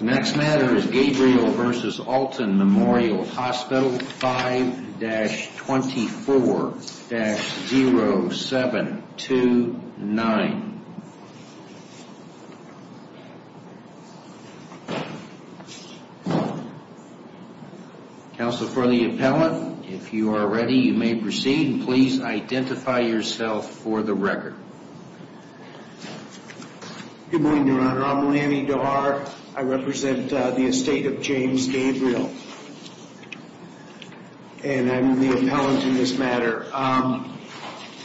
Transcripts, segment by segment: Next matter is Gabriel v. Alton Memorial Hospital, 5-24-0729. Counsel for the appellant, if you are ready you may proceed and please identify yourself for the record. Good morning, your honor. I'm Lanny Doar. I represent the estate of James Gabriel. And I'm the appellant in this matter.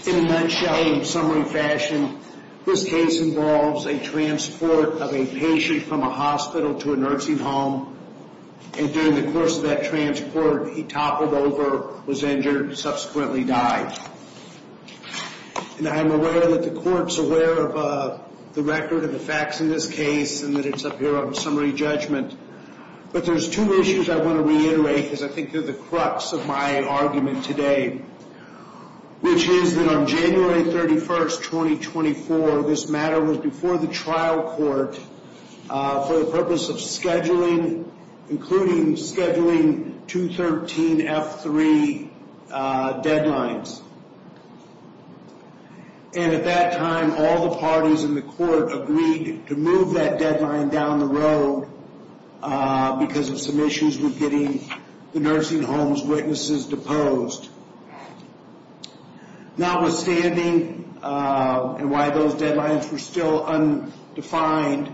In a nutshell, in summary fashion, this case involves a transport of a patient from a hospital to a nursing home. And during the course of that transport, he toppled over, was injured, and subsequently died. And I'm aware that the court's aware of the record of the facts in this case and that it's up here on summary judgment. But there's two issues I want to reiterate because I think they're the crux of my argument today. Which is that on January 31st, 2024, this matter was before the trial court for the purpose of scheduling, including scheduling 213F3 deadlines. And at that time, all the parties in the court agreed to move that deadline down the road because of some issues with getting the nursing home's witnesses deposed. Notwithstanding, and why those deadlines were still undefined,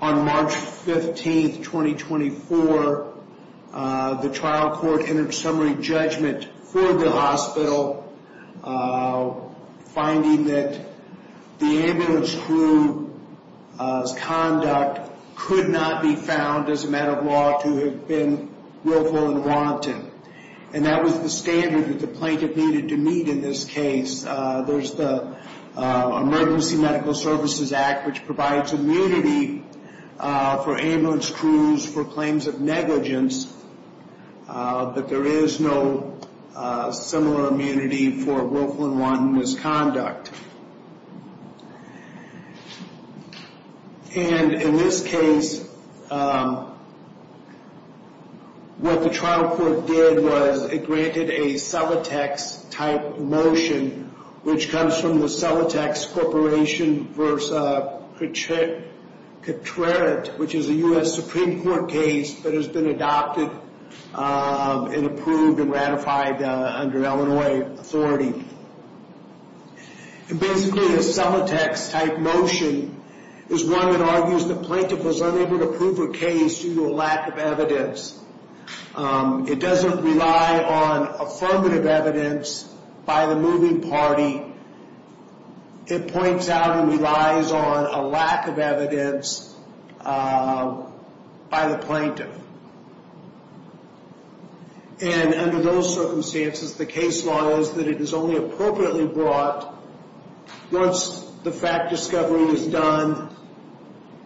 on March 15th, 2024, the trial court entered summary judgment for the hospital, finding that the ambulance crew's conduct could not be found, as a matter of law, to have been willful and wanton. And that was the standard that the plaintiff needed to meet in this case. There's the Emergency Medical Services Act, which provides immunity for ambulance crews for claims of negligence. But there is no similar immunity for willful and wanton misconduct. And in this case, what the trial court did was it granted a Celotex-type motion, which comes from the Celotex Corporation v. Catrerit, which is a U.S. Supreme Court case that has been adopted and approved and ratified under Illinois authority. And basically, the Celotex-type motion is one that argues the plaintiff was unable to prove her case due to a lack of evidence. It doesn't rely on affirmative evidence by the moving party. It points out and relies on a lack of evidence by the plaintiff. And under those circumstances, the case law is that it is only appropriately brought once the fact discovery is done,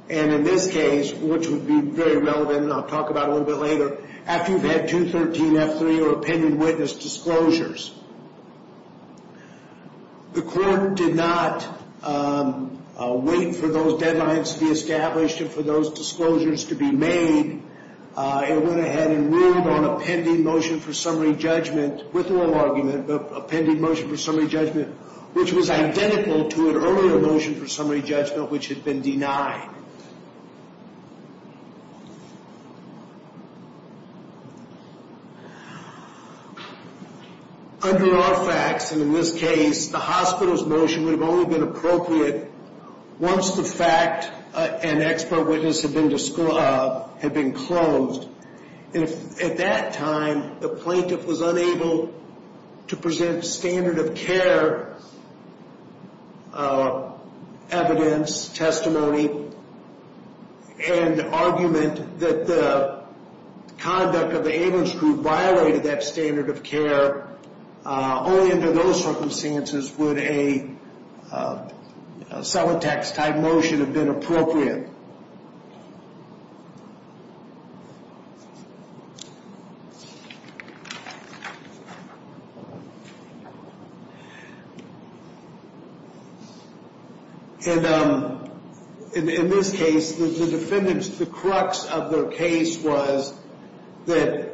and in this case, which would be very relevant and I'll talk about a little bit later, after you've had 213F3 or opinion witness disclosures. The court did not wait for those deadlines to be established and for those disclosures to be made. It went ahead and ruled on a pending motion for summary judgment, with no argument, but a pending motion for summary judgment, which was identical to an earlier motion for summary judgment, which had been denied. Under all facts, and in this case, the hospital's motion would have only been appropriate once the fact and expert witness had been disclosed, had been closed. At that time, the plaintiff was unable to present standard of care evidence, testimony, and argument that the conduct of the ambulance group violated that standard of care. Only under those circumstances would a subtext type motion have been appropriate. And in this case, the defendant's, the crux of their case was that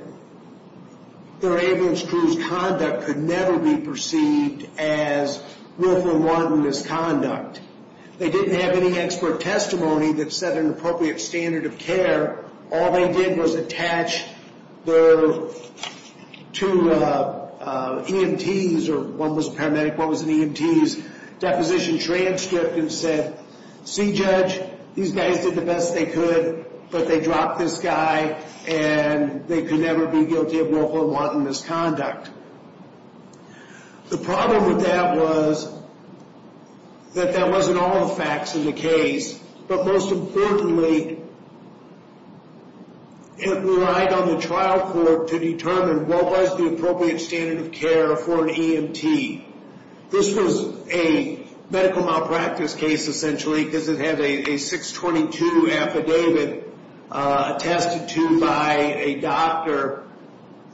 their ambulance crew's conduct could never be perceived as willful, They didn't have any expert testimony that set an appropriate standard of care. All they did was attach their two EMTs, or one was a paramedic, one was an EMT's, deposition transcript and said, see judge, these guys did the best they could, but they dropped this guy and they could never be guilty of willful and wanton misconduct. The problem with that was that that wasn't all the facts of the case, but most importantly, it relied on the trial court to determine what was the appropriate standard of care for an EMT. This was a medical malpractice case, essentially, because it had a 622 affidavit attested to by a doctor.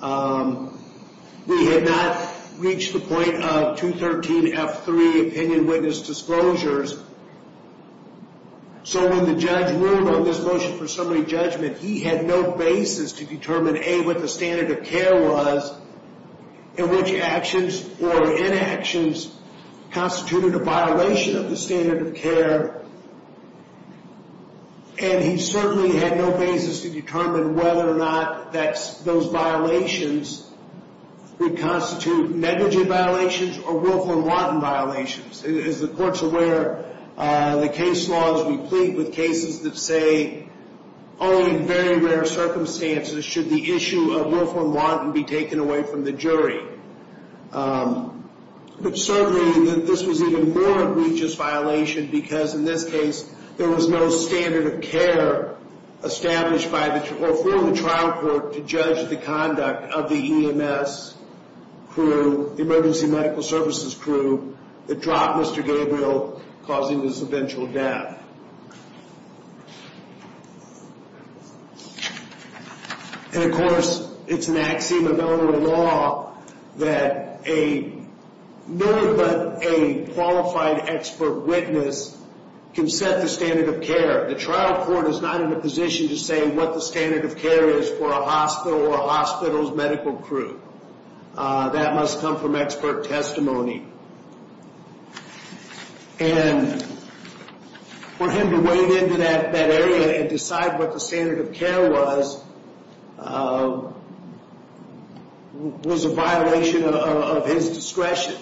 We had not reached the point of 213F3 opinion witness disclosures, so when the judge ruled on this motion for summary judgment, he had no basis to determine, A, what the standard of care was, and which actions or inactions constituted a violation of the standard of care, and he certainly had no basis to determine whether or not those violations would constitute negligent violations or willful and wanton violations. As the court's aware, the case law is replete with cases that say, only in very rare circumstances should the issue of willful and wanton be taken away from the jury. But certainly this was an even more egregious violation because in this case, there was no standard of care established by the, or for the trial court to judge the conduct of the EMS crew, the emergency medical services crew, that dropped Mr. Gabriel, causing his eventual death. And of course, it's an axiom of Illinois law that a, no one but a qualified expert witness can set the standard of care. The trial court is not in a position to say what the standard of care is for a hospital or a hospital's medical crew. That must come from expert testimony. And for him to wade into that area and decide what the standard of care was, was a violation of his discretion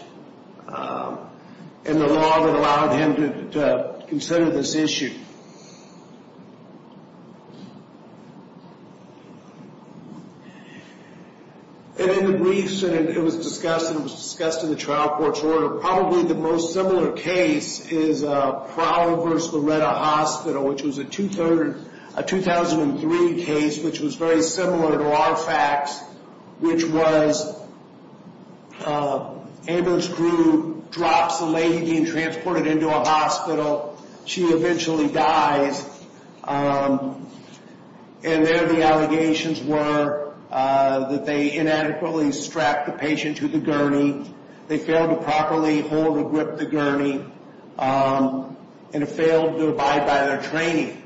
and the law that allowed him to consider this issue. And in the briefs that it was discussed, and it was discussed in the trial court's order, probably the most similar case is Prowell v. Loretta Hospital, which was a 2003 case, which was very similar to our facts, which was Amber's crew drops a lady being transported into a hospital. She eventually dies. And there the allegations were that they inadequately strapped the patient to the gurney. They failed to properly hold or grip the gurney. And it failed to abide by their training.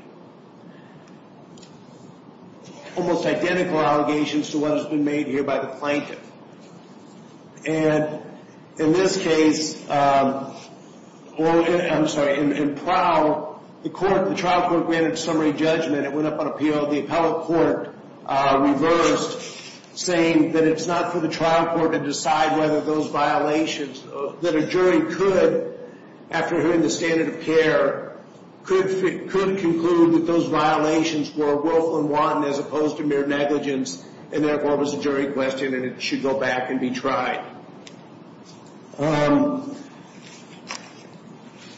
Almost identical allegations to what has been made here by the plaintiff. And in this case, I'm sorry, in Prowell, the trial court granted summary judgment. It went up on appeal. The appellate court reversed, saying that it's not for the trial court to decide whether those violations, that a jury could, after hearing the standard of care, could conclude that those violations were woeful and wanton as opposed to mere negligence, and therefore it was a jury question and it should go back and be tried. And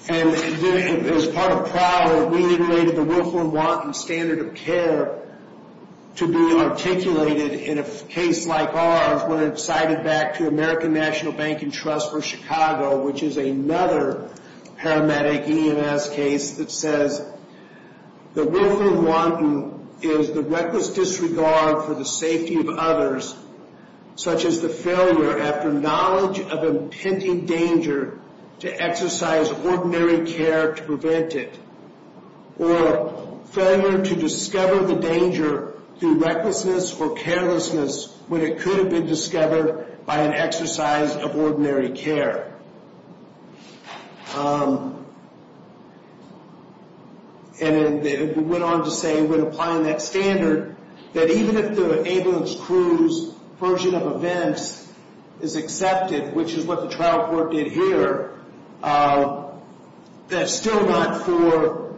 as part of Prowell, we related the woeful and wanton standard of care to be articulated in a case like ours when it's cited back to American National Bank and Trust v. Chicago, which is another paramedic EMS case that says, the woeful and wanton is the reckless disregard for the safety of others, such as the failure after knowledge of impending danger to exercise ordinary care to prevent it, or failure to discover the danger through recklessness or carelessness when it could have been discovered by an exercise of ordinary care. And it went on to say, when applying that standard, that even if the ambulance crew's version of events is accepted, which is what the trial court did here, that's still not for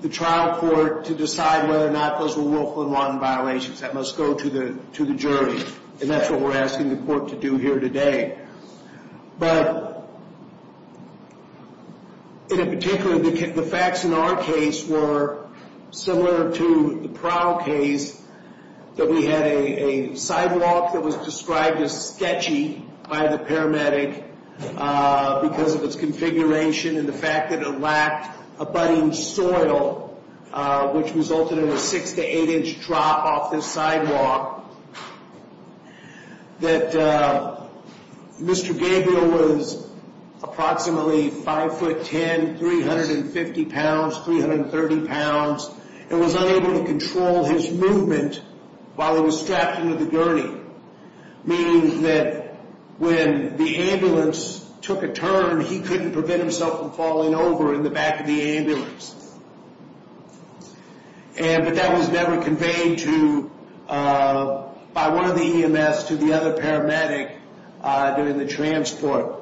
the trial court to decide whether or not those were woeful and wanton violations. That must go to the jury. And that's what we're asking the court to do here today. But in particular, the facts in our case were similar to the Prowell case, that we had a sidewalk that was described as sketchy by the paramedic because of its configuration and the fact that it lacked a budding soil, which resulted in a six- to eight-inch drop off the sidewalk, that Mr. Gabriel was approximately 5'10", 350 pounds, 330 pounds, and was unable to control his movement while he was strapped into the gurney, meaning that when the ambulance took a turn, he couldn't prevent himself from falling over in the back of the ambulance. But that was never conveyed by one of the EMS to the other paramedic during the transport.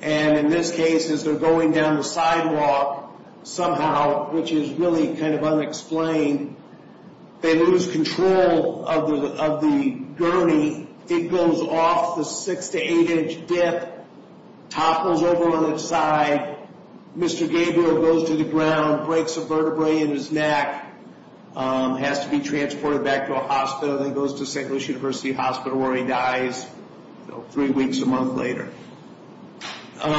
And in this case, as they're going down the sidewalk somehow, which is really kind of unexplained, they lose control of the gurney. It goes off the six- to eight-inch dip, topples over on its side. Mr. Gabriel goes to the ground, breaks a vertebrae in his neck, has to be transported back to a hospital, and then goes to St. Louis University Hospital where he dies three weeks, a month later. So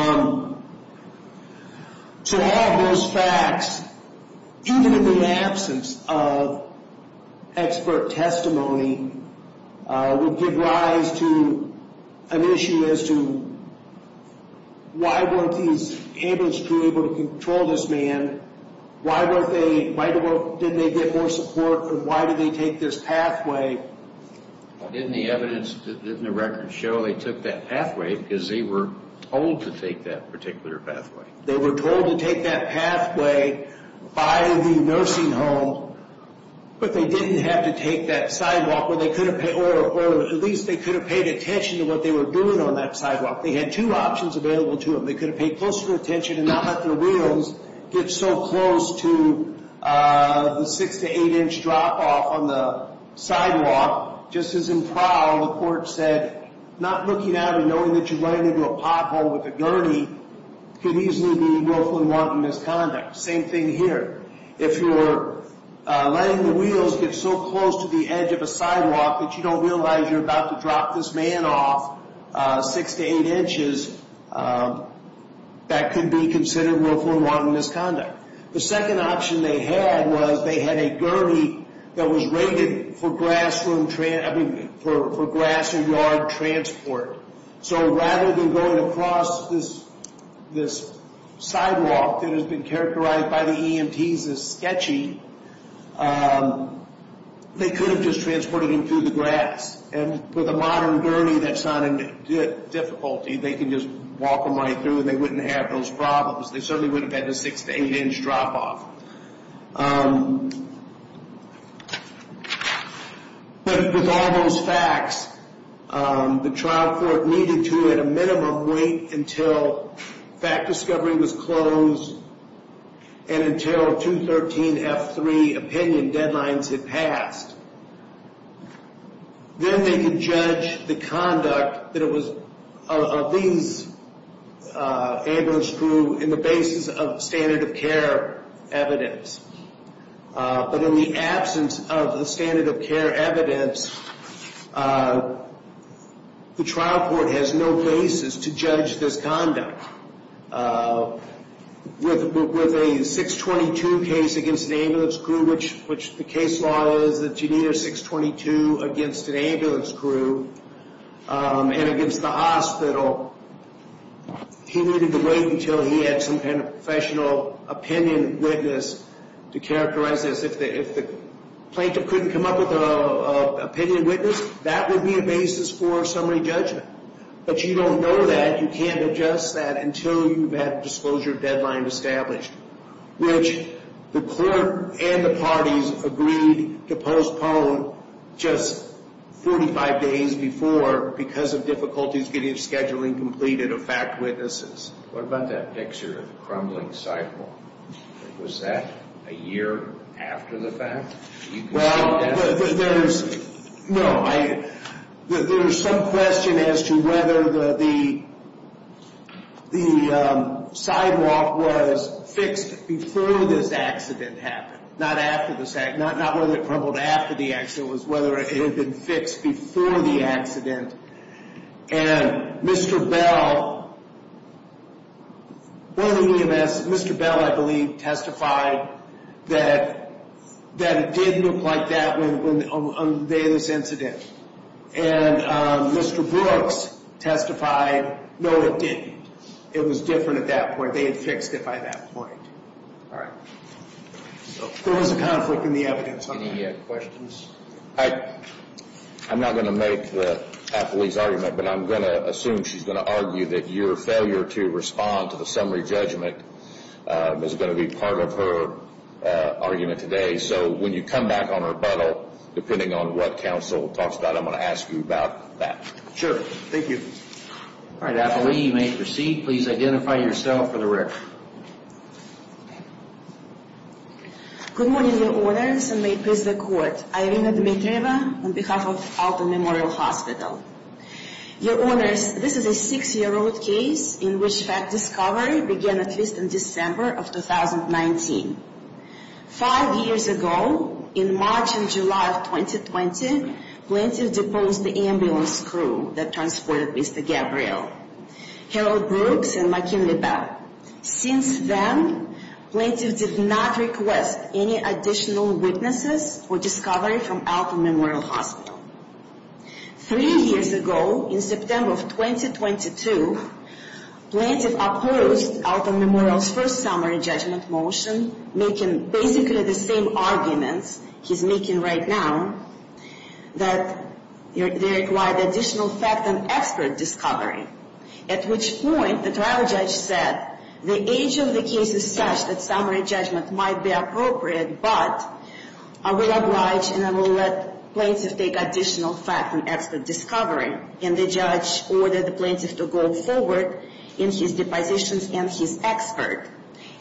all of those facts, even in the absence of expert testimony, would give rise to an issue as to why weren't these ambulance crew able to control this man, why didn't they get more support, and why did they take this pathway? Didn't the evidence, didn't the records show they took that pathway because they were told to take that particular pathway? They were told to take that pathway by the nursing home, but they didn't have to take that sidewalk, or at least they could have paid attention to what they were doing on that sidewalk. They had two options available to them. They could have paid closer attention and not let their wheels get so close to the six- to eight-inch drop-off on the sidewalk. Just as in trial, the court said not looking at it and knowing that you're running into a pothole with a gurney could easily be willfully wanted misconduct. Same thing here. If you're letting the wheels get so close to the edge of a sidewalk that you don't realize you're about to drop this man off six to eight inches, that could be considered willfully wanted misconduct. The second option they had was they had a gurney that was rated for grass or yard transport. So rather than going across this sidewalk that has been characterized by the EMTs as sketchy, they could have just transported him through the grass. And with a modern gurney, that's not a difficulty. They can just walk him right through, and they wouldn't have those problems. They certainly wouldn't have had the six- to eight-inch drop-off. But with all those facts, the trial court needed to, at a minimum, wait until fact discovery was closed and until 213F3 opinion deadlines had passed. Then they could judge the conduct of these ambulance crew in the basis of standard of care evidence. But in the absence of the standard of care evidence, the trial court has no basis to judge this conduct. With a 622 case against an ambulance crew, which the case law is that you need a 622 against an ambulance crew and against the hospital, he needed to wait until he had some kind of professional opinion witness to characterize this. If the plaintiff couldn't come up with an opinion witness, that would be a basis for summary judgment. But you don't know that. You can't adjust that until you've had a disclosure deadline established, which the court and the parties agreed to postpone just 45 days before because of difficulties getting scheduling completed of fact witnesses. What about that picture of the crumbling cycle? Was that a year after the fact? Well, there's some question as to whether the sidewalk was fixed before this accident happened, not whether it crumbled after the accident. It was whether it had been fixed before the accident. And Mr. Bell, I believe, testified that it did look like that on the day of this incident. And Mr. Brooks testified, no, it didn't. It was different at that point. They had fixed it by that point. All right. There was a conflict in the evidence on that. Any questions? I'm not going to make Apolli's argument, but I'm going to assume she's going to argue that your failure to respond to the summary judgment is going to be part of her argument today. So when you come back on rebuttal, depending on what counsel talks about, I'm going to ask you about that. Sure. Thank you. All right, Apolli, you may proceed. Please identify yourself for the record. Good morning, Your Honors, and may it please the Court. I am Irina Dmitrieva on behalf of Alton Memorial Hospital. Your Honors, this is a six-year-old case in which fact discovery began at least in December of 2019. Five years ago, in March and July of 2020, plaintiffs deposed the ambulance crew that transported Mr. Gabriel, Harold Brooks, and McKinley Bell. Since then, plaintiffs did not request any additional witnesses or discovery from Alton Memorial Hospital. Three years ago, in September of 2022, plaintiffs opposed Alton Memorial's first summary judgment motion, making basically the same arguments he's making right now, that they require additional fact and expert discovery, at which point the trial judge said, the age of the case is such that summary judgment might be appropriate, but I will oblige and I will let plaintiffs take additional fact and expert discovery. And the judge ordered the plaintiff to go forward in his depositions and his expert.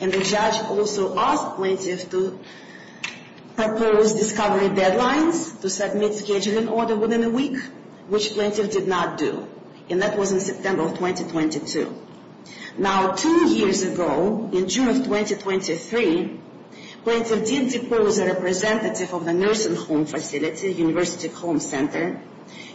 And the judge also asked plaintiffs to propose discovery deadlines, to submit scheduling order within a week, which plaintiffs did not do. And that was in September of 2022. Now, two years ago, in June of 2023, plaintiffs did depose a representative of the nursing home facility, University Home Center.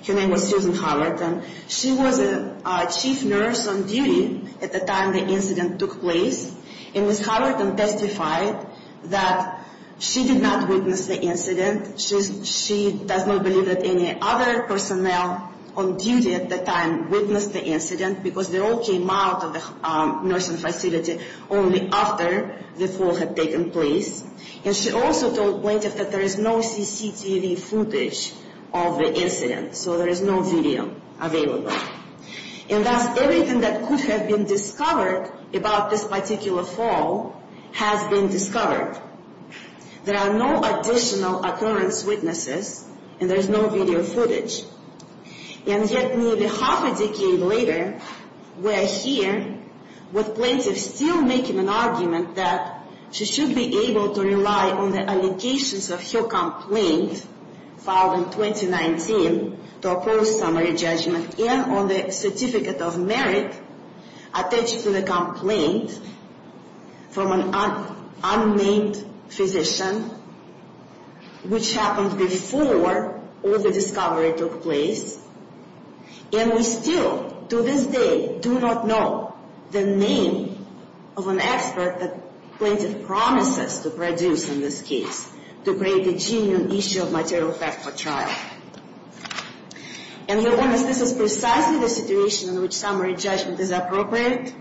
Her name was Susan Hallerton. She was a chief nurse on duty at the time the incident took place. And Ms. Hallerton testified that she did not witness the incident. She does not believe that any other personnel on duty at the time witnessed the incident, because they all came out of the nursing facility only after the fall had taken place. And she also told plaintiffs that there is no CCTV footage of the incident, so there is no video available. And thus, everything that could have been discovered about this particular fall has been discovered. There are no additional occurrence witnesses, and there is no video footage. And yet, nearly half a decade later, we are here with plaintiffs still making an argument that she should be able to rely on the allegations of her complaint filed in 2019 to oppose summary judgment, and on the certificate of merit attached to the complaint from an unnamed physician, which happened before all the discovery took place. And we still, to this day, do not know the name of an expert that plaintiff promises to produce in this case to break the genuine issue of material theft for trial. And your Honor, this is precisely the situation in which summary judgment is appropriate.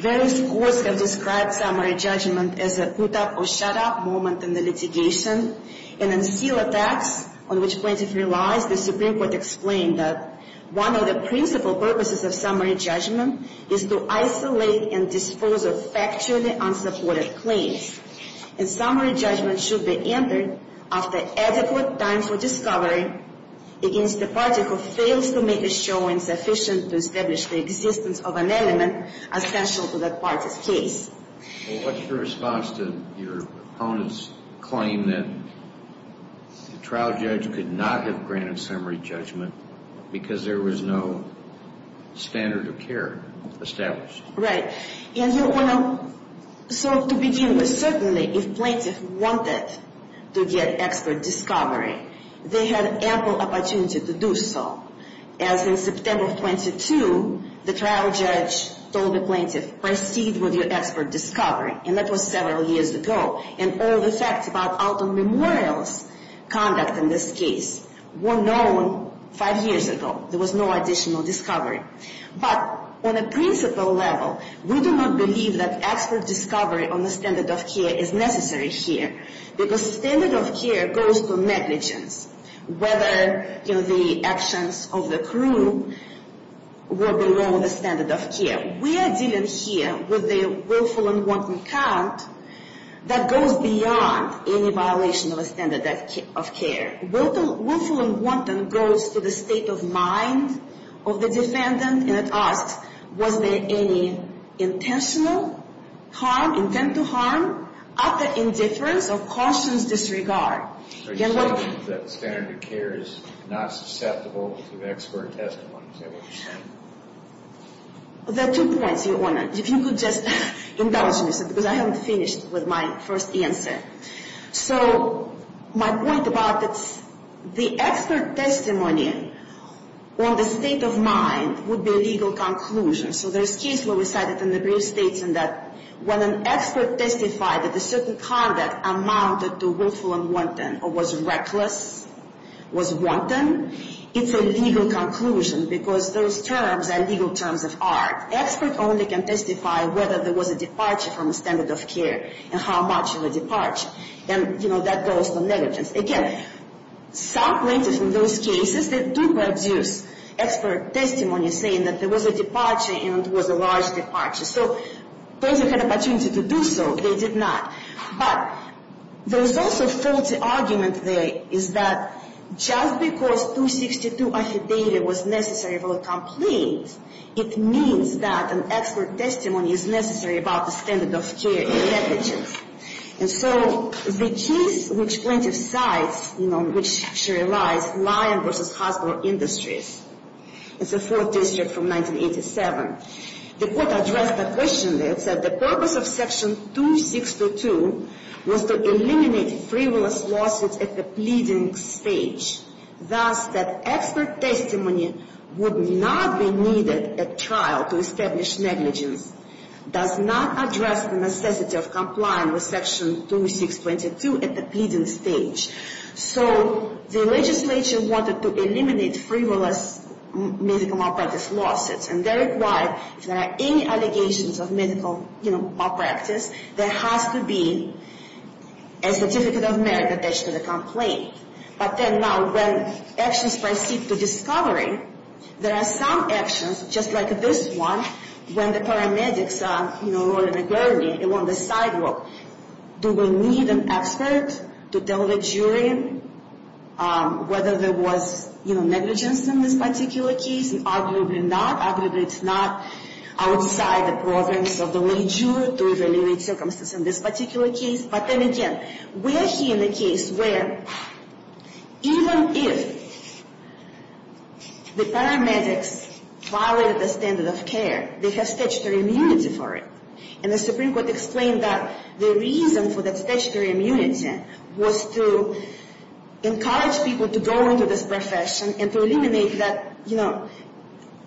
Various courts have described summary judgment as a put-up-or-shut-up moment in the litigation. And in SEAL Attacks, on which plaintiff relies, the Supreme Court explained that one of the principal purposes of summary judgment is to isolate and dispose of factually unsupported claims. And summary judgment should be entered after adequate time for discovery against the party who fails to make a showing sufficient to establish the existence of an element essential to that party's case. What's your response to your opponent's claim that the trial judge could not have granted summary judgment because there was no standard of care established? Right. And your Honor, so to begin with, certainly if plaintiff wanted to get expert discovery, they had ample opportunity to do so. As in September 22, the trial judge told the plaintiff, proceed with your expert discovery. And that was several years ago. And all the facts about Alton Memorial's conduct in this case were known five years ago. There was no additional discovery. But on a principal level, we do not believe that expert discovery on the standard of care is necessary here. Because standard of care goes to negligence. Whether the actions of the crew were below the standard of care. We are dealing here with a willful and wanton count that goes beyond any violation of a standard of care. Willful and wanton goes to the state of mind of the defendant. And it asks, was there any intentional harm, intent to harm, utter indifference, or cautious disregard? Are you saying that standard of care is not susceptible to expert testimony? Is that what you're saying? There are two points, Your Honor, if you could just indulge me. Because I haven't finished with my first answer. So my point about the expert testimony on the state of mind would be a legal conclusion. So there's a case where we cited in the brief states that when an expert testified that a certain conduct amounted to willful and wanton, or was reckless, was wanton, it's a legal conclusion. Because those terms are legal terms of art. Expert only can testify whether there was a departure from a standard of care and how much of a departure. And, you know, that goes to negligence. Again, some plaintiffs in those cases, they do produce expert testimony saying that there was a departure and it was a large departure. So those who had an opportunity to do so, they did not. But there's also a faulty argument there is that just because 262 affidavit was necessary for a complaint, it means that an expert testimony is necessary about the standard of care negligence. And so the case which plaintiff cites, you know, in which she relies, Lyon v. Hospital Industries. It's a Fourth District from 1987. The court addressed the question there. It said the purpose of Section 262 was to eliminate frivolous lawsuits at the pleading stage. Thus, that expert testimony would not be needed at trial to establish negligence, does not address the necessity of complying with Section 2622 at the pleading stage. So the legislature wanted to eliminate frivolous medical malpractice lawsuits. And that is why, if there are any allegations of medical, you know, malpractice, there has to be a Certificate of Merit attached to the complaint. But then now when actions proceed to discovery, there are some actions, just like this one, when the paramedics are, you know, rolling the gurney along the sidewalk. Do we need an expert to tell the jury whether there was, you know, negligence in this particular case? Arguably not. Arguably it's not outside the province of the law to eliminate circumstances in this particular case. But then again, were he in a case where even if the paramedics violated the standard of care, they have statutory immunity for it. And the Supreme Court explained that the reason for that statutory immunity was to encourage people to go into this profession and to eliminate that, you know,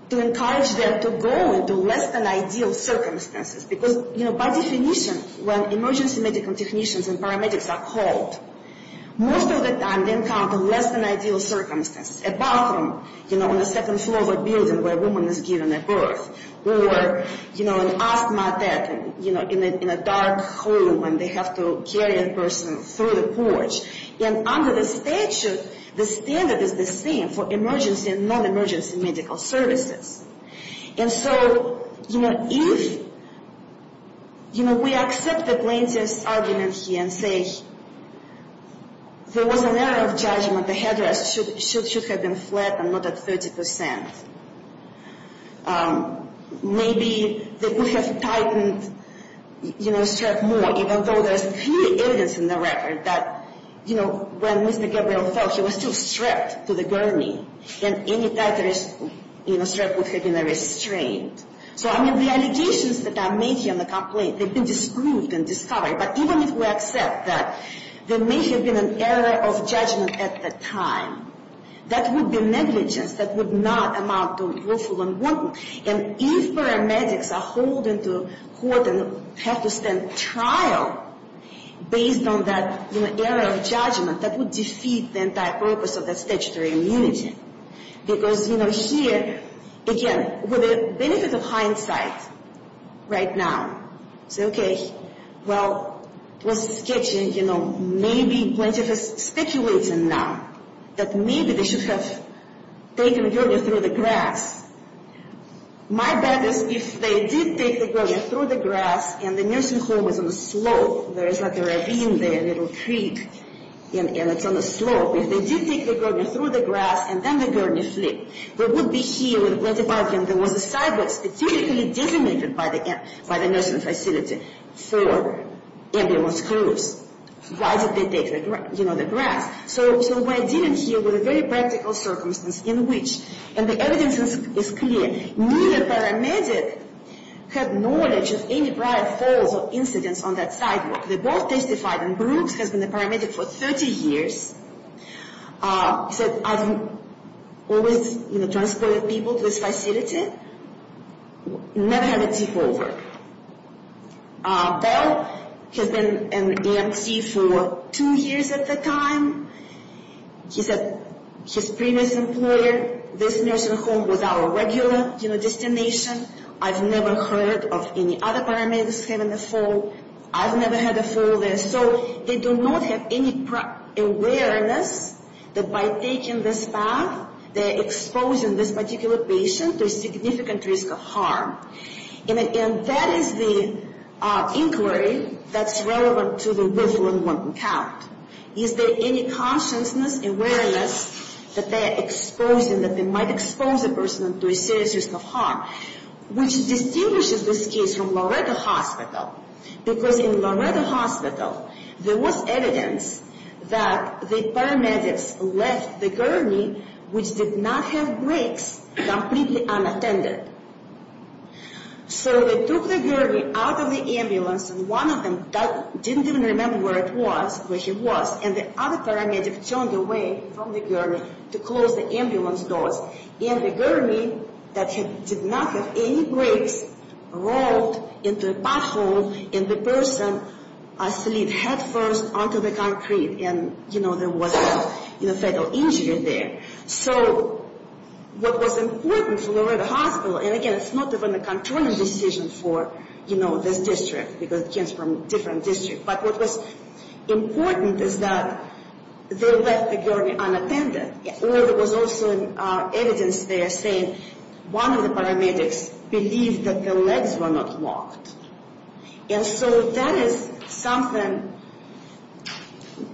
to encourage them to go into less than ideal circumstances. Because, you know, by definition, when emergency medical technicians and paramedics are called, most of the time they encounter less than ideal circumstances. A bathroom, you know, on the second floor of a building where a woman is given a birth. Or, you know, an asthma attack, you know, in a dark room when they have to carry a person through the porch. And under the statute, the standard is the same for emergency and non-emergency medical services. And so, you know, if, you know, we accept the plaintiff's argument here and say there was an error of judgment, then the headrest should have been flat and not at 30 percent. Maybe they would have tightened, you know, stripped more, even though there's clear evidence in the record that, you know, when Mr. Gabriel fell, he was still stripped to the gurney. And any type of, you know, strip would have been a restraint. So, I mean, the allegations that are made here in the complaint, they've been disproved and discovered. But even if we accept that there may have been an error of judgment at the time, that would be negligence. That would not amount to lawful unwanted. And if paramedics are holding to court and have to stand trial based on that, you know, error of judgment, that would defeat the entire purpose of the statutory immunity. Because, you know, here, again, for the benefit of hindsight right now, say, okay, well, this is sketchy, you know, maybe plaintiff is speculating now that maybe they should have taken the gurney through the grass. My bet is if they did take the gurney through the grass and the nursing home is on the slope, there is like a ravine there, a little creek, and it's on the slope. If they did take the gurney through the grass and then the gurney flipped, there would be here where the plaintiff argued there was a sidewalk specifically designated by the nursing facility for ambulance crews. Why did they take, you know, the grass? So we're dealing here with a very practical circumstance in which, and the evidence is clear, neither paramedic had knowledge of any prior falls or incidents on that sidewalk. The ball testified in Brooks has been a paramedic for 30 years. He said, I've always, you know, transported people to this facility, never had a tip over. Bell has been an EMT for two years at the time. He said his previous employer, this nursing home, was our regular, you know, destination. I've never heard of any other paramedics having a fall. I've never had a fall there. So they do not have any awareness that by taking this path, they're exposing this particular patient to a significant risk of harm. And that is the inquiry that's relevant to the Willful Unwanted Count. Is there any consciousness, awareness, that they're exposing, that they might expose a person to a serious risk of harm, which distinguishes this case from Loretto Hospital? Because in Loretto Hospital, there was evidence that the paramedics left the gurney, which did not have brakes, completely unattended. So they took the gurney out of the ambulance, and one of them didn't even remember where it was, where he was, and the other paramedic turned away from the gurney to close the ambulance doors. And the gurney that did not have any brakes rolled into a pothole, and the person slid headfirst onto the concrete, and, you know, there was a fatal injury there. So what was important for Loretto Hospital, and again, it's not even a controlling decision for, you know, this district, because it comes from a different district, but what was important is that they left the gurney unattended. Or there was also evidence there saying, one of the paramedics believed that their legs were not locked. And so that is something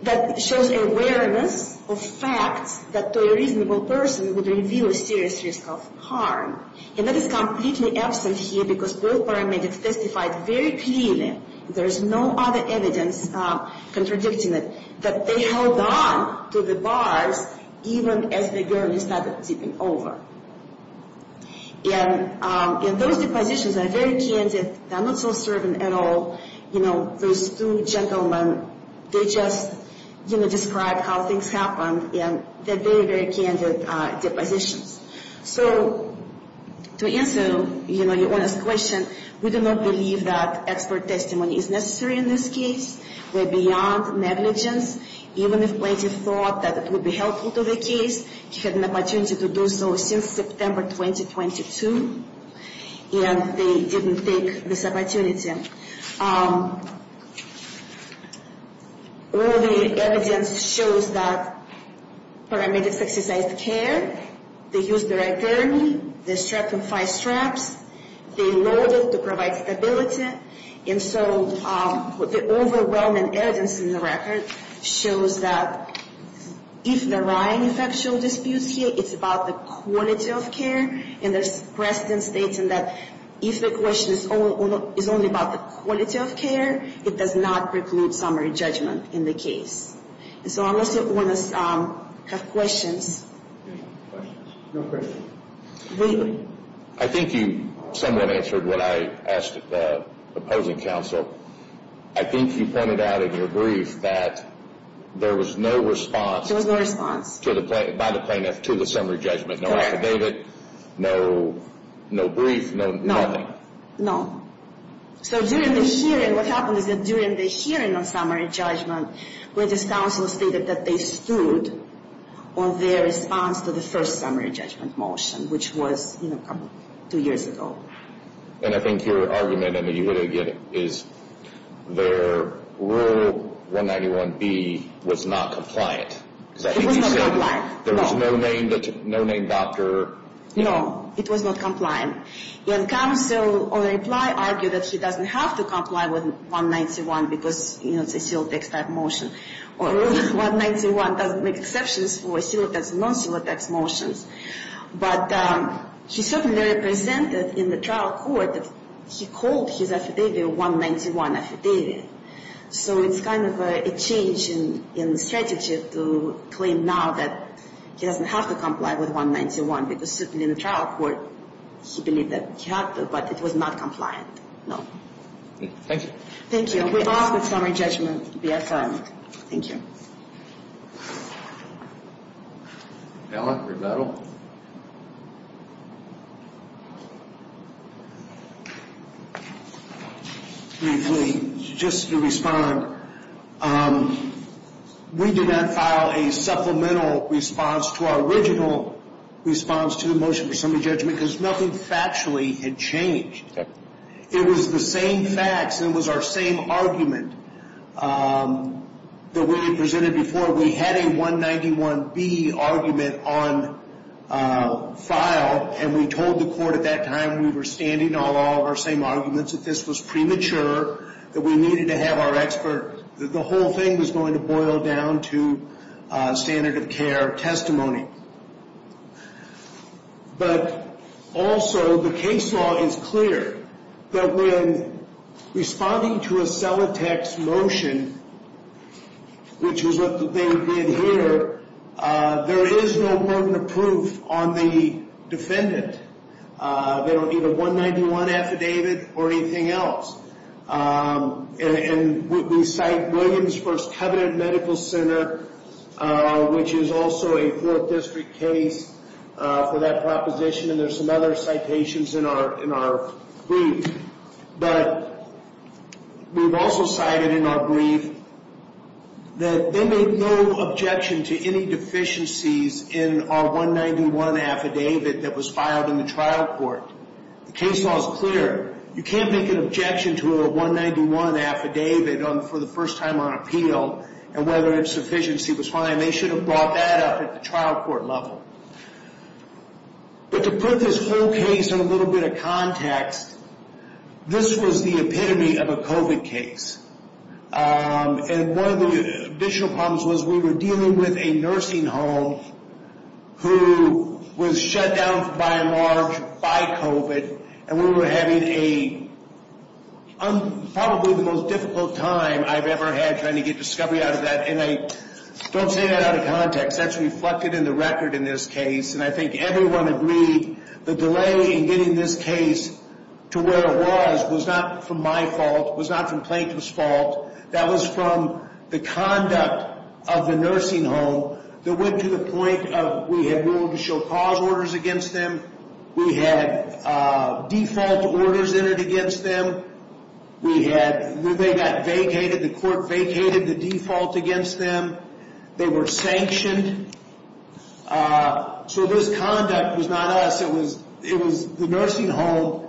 that shows awareness of facts that to a reasonable person would reveal a serious risk of harm. And that is completely absent here, because both paramedics testified very clearly, there is no other evidence contradicting it, that they held on to the bars even as the gurney started tipping over. And those depositions are very candid, they're not so servant at all. You know, those two gentlemen, they just, you know, described how things happened, and they're very, very candid depositions. So to answer, you know, your honest question, we do not believe that expert testimony is necessary in this case. We're beyond negligence. Even if plaintiff thought that it would be helpful to the case, she had an opportunity to do so since September 2022, and they didn't take this opportunity. All the evidence shows that paramedics exercised care. They used the right gurney. They strapped them five straps. They loaded to provide stability. And so the overwhelming evidence in the record shows that if there are any factual disputes here, it's about the quality of care. And there's precedent stating that if the question is only about the quality of care, it does not preclude summary judgment in the case. So unless you want to have questions. No questions. I think you somewhat answered what I asked the opposing counsel. I think you pointed out in your brief that there was no response. There was no response. By the plaintiff to the summary judgment. No affidavit, no brief, no nothing. No. So during the hearing, what happened is that during the hearing on summary judgment, where this counsel stated that they stood on their response to the first summary judgment motion, which was two years ago. And I think your argument, and you hit it again, is their Rule 191B was not compliant. It was not compliant. There was no named doctor. No, it was not compliant. And counsel, on reply, argued that she doesn't have to comply with 191 because, you know, it's a civil tax type motion. Or Rule 191 doesn't make exceptions for civil tax and non-civil tax motions. But she certainly presented in the trial court that she called his affidavit a 191 affidavit. So it's kind of a change in the strategy to claim now that she doesn't have to comply with 191 because certainly in the trial court she believed that she had to, but it was not compliant. No. Thank you. Thank you. We're off with summary judgment BFR. Thank you. Ellen, rebuttal. Briefly, just to respond. We did not file a supplemental response to our original response to the motion for summary judgment because nothing factually had changed. Okay. It was the same facts and it was our same argument that we had presented before. We had a 191B argument on file, and we told the court at that time, we were standing on all of our same arguments, that this was premature, that we needed to have our expert. The whole thing was going to boil down to standard of care testimony. But also, the case law is clear that when responding to a Celotex motion, which is what they did here, there is no permanent proof on the defendant. They don't need a 191 affidavit or anything else. And we cite Williams First Covenant Medical Center, which is also a 4th District case for that proposition, and there's some other citations in our brief. But we've also cited in our brief that they made no objection to any deficiencies in our 191 affidavit that was filed in the trial court. The case law is clear. You can't make an objection to a 191 affidavit for the first time on appeal and whether its efficiency was fine. They should have brought that up at the trial court level. But to put this whole case in a little bit of context, this was the epitome of a COVID case. And one of the additional problems was we were dealing with a nursing home who was shut down by and large by COVID, and we were having probably the most difficult time I've ever had trying to get discovery out of that. And I don't say that out of context. That's reflected in the record in this case, and I think everyone agreed the delay in getting this case to where it was was not from my fault, was not from plaintiff's fault. That was from the conduct of the nursing home that went to the point of we had ruled to show cause orders against them. We had default orders entered against them. We had – they got vacated. The court vacated the default against them. They were sanctioned. So this conduct was not us. It was the nursing home,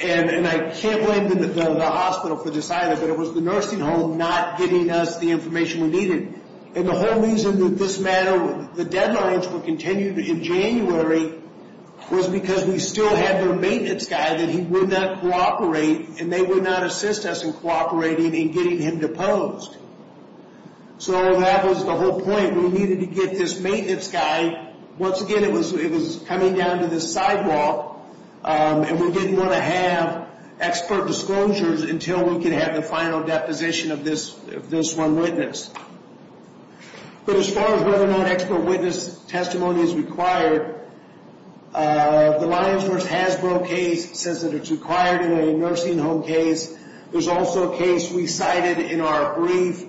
and I can't blame the hospital for this either, but it was the nursing home not getting us the information we needed. And the whole reason that this matter – the deadlines were continued in January was because we still had their maintenance guy that he would not cooperate, and they would not assist us in cooperating in getting him deposed. So that was the whole point. We needed to get this maintenance guy. Once again, it was coming down to this sidewalk, and we didn't want to have expert disclosures until we could have the final deposition of this one witness. But as far as whether or not expert witness testimony is required, the Lyons v. Hasbro case says that it's required in a nursing home case. There's also a case we cited in our brief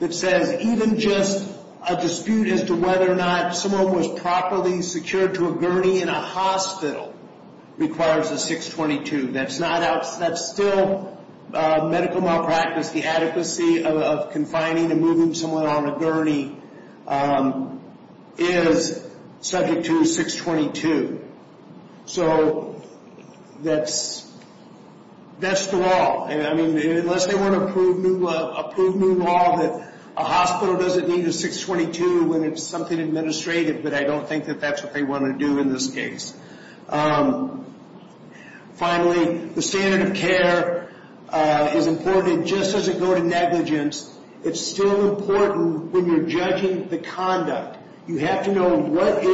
that says even just a dispute as to whether or not someone was properly secured to a gurney in a hospital requires a 622. That's still medical malpractice. The adequacy of confining and moving someone on a gurney is subject to a 622. So that's the law. I mean, unless they want to approve new law that a hospital doesn't need a 622 when it's something administrative, but I don't think that that's what they want to do in this case. Finally, the standard of care is important. It just doesn't go to negligence. It's still important when you're judging the conduct. You have to know what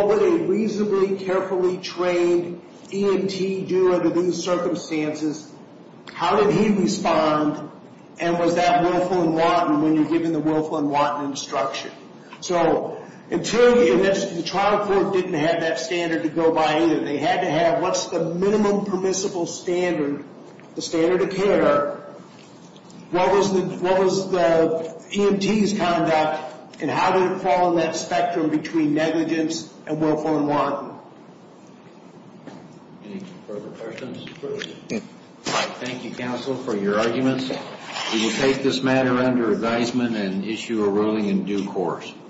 would a reasonably carefully trained EMT do under these circumstances, how did he respond, and was that willful and wanton when you're giving the willful and wanton instruction. So until the trial court didn't have that standard to go by either, they had to have what's the minimum permissible standard, the standard of care, what was the EMT's conduct, and how did it fall on that spectrum between negligence and willful and wanton. Any further questions? Thank you, counsel, for your arguments. We will take this matter under advisement and issue a ruling in due course.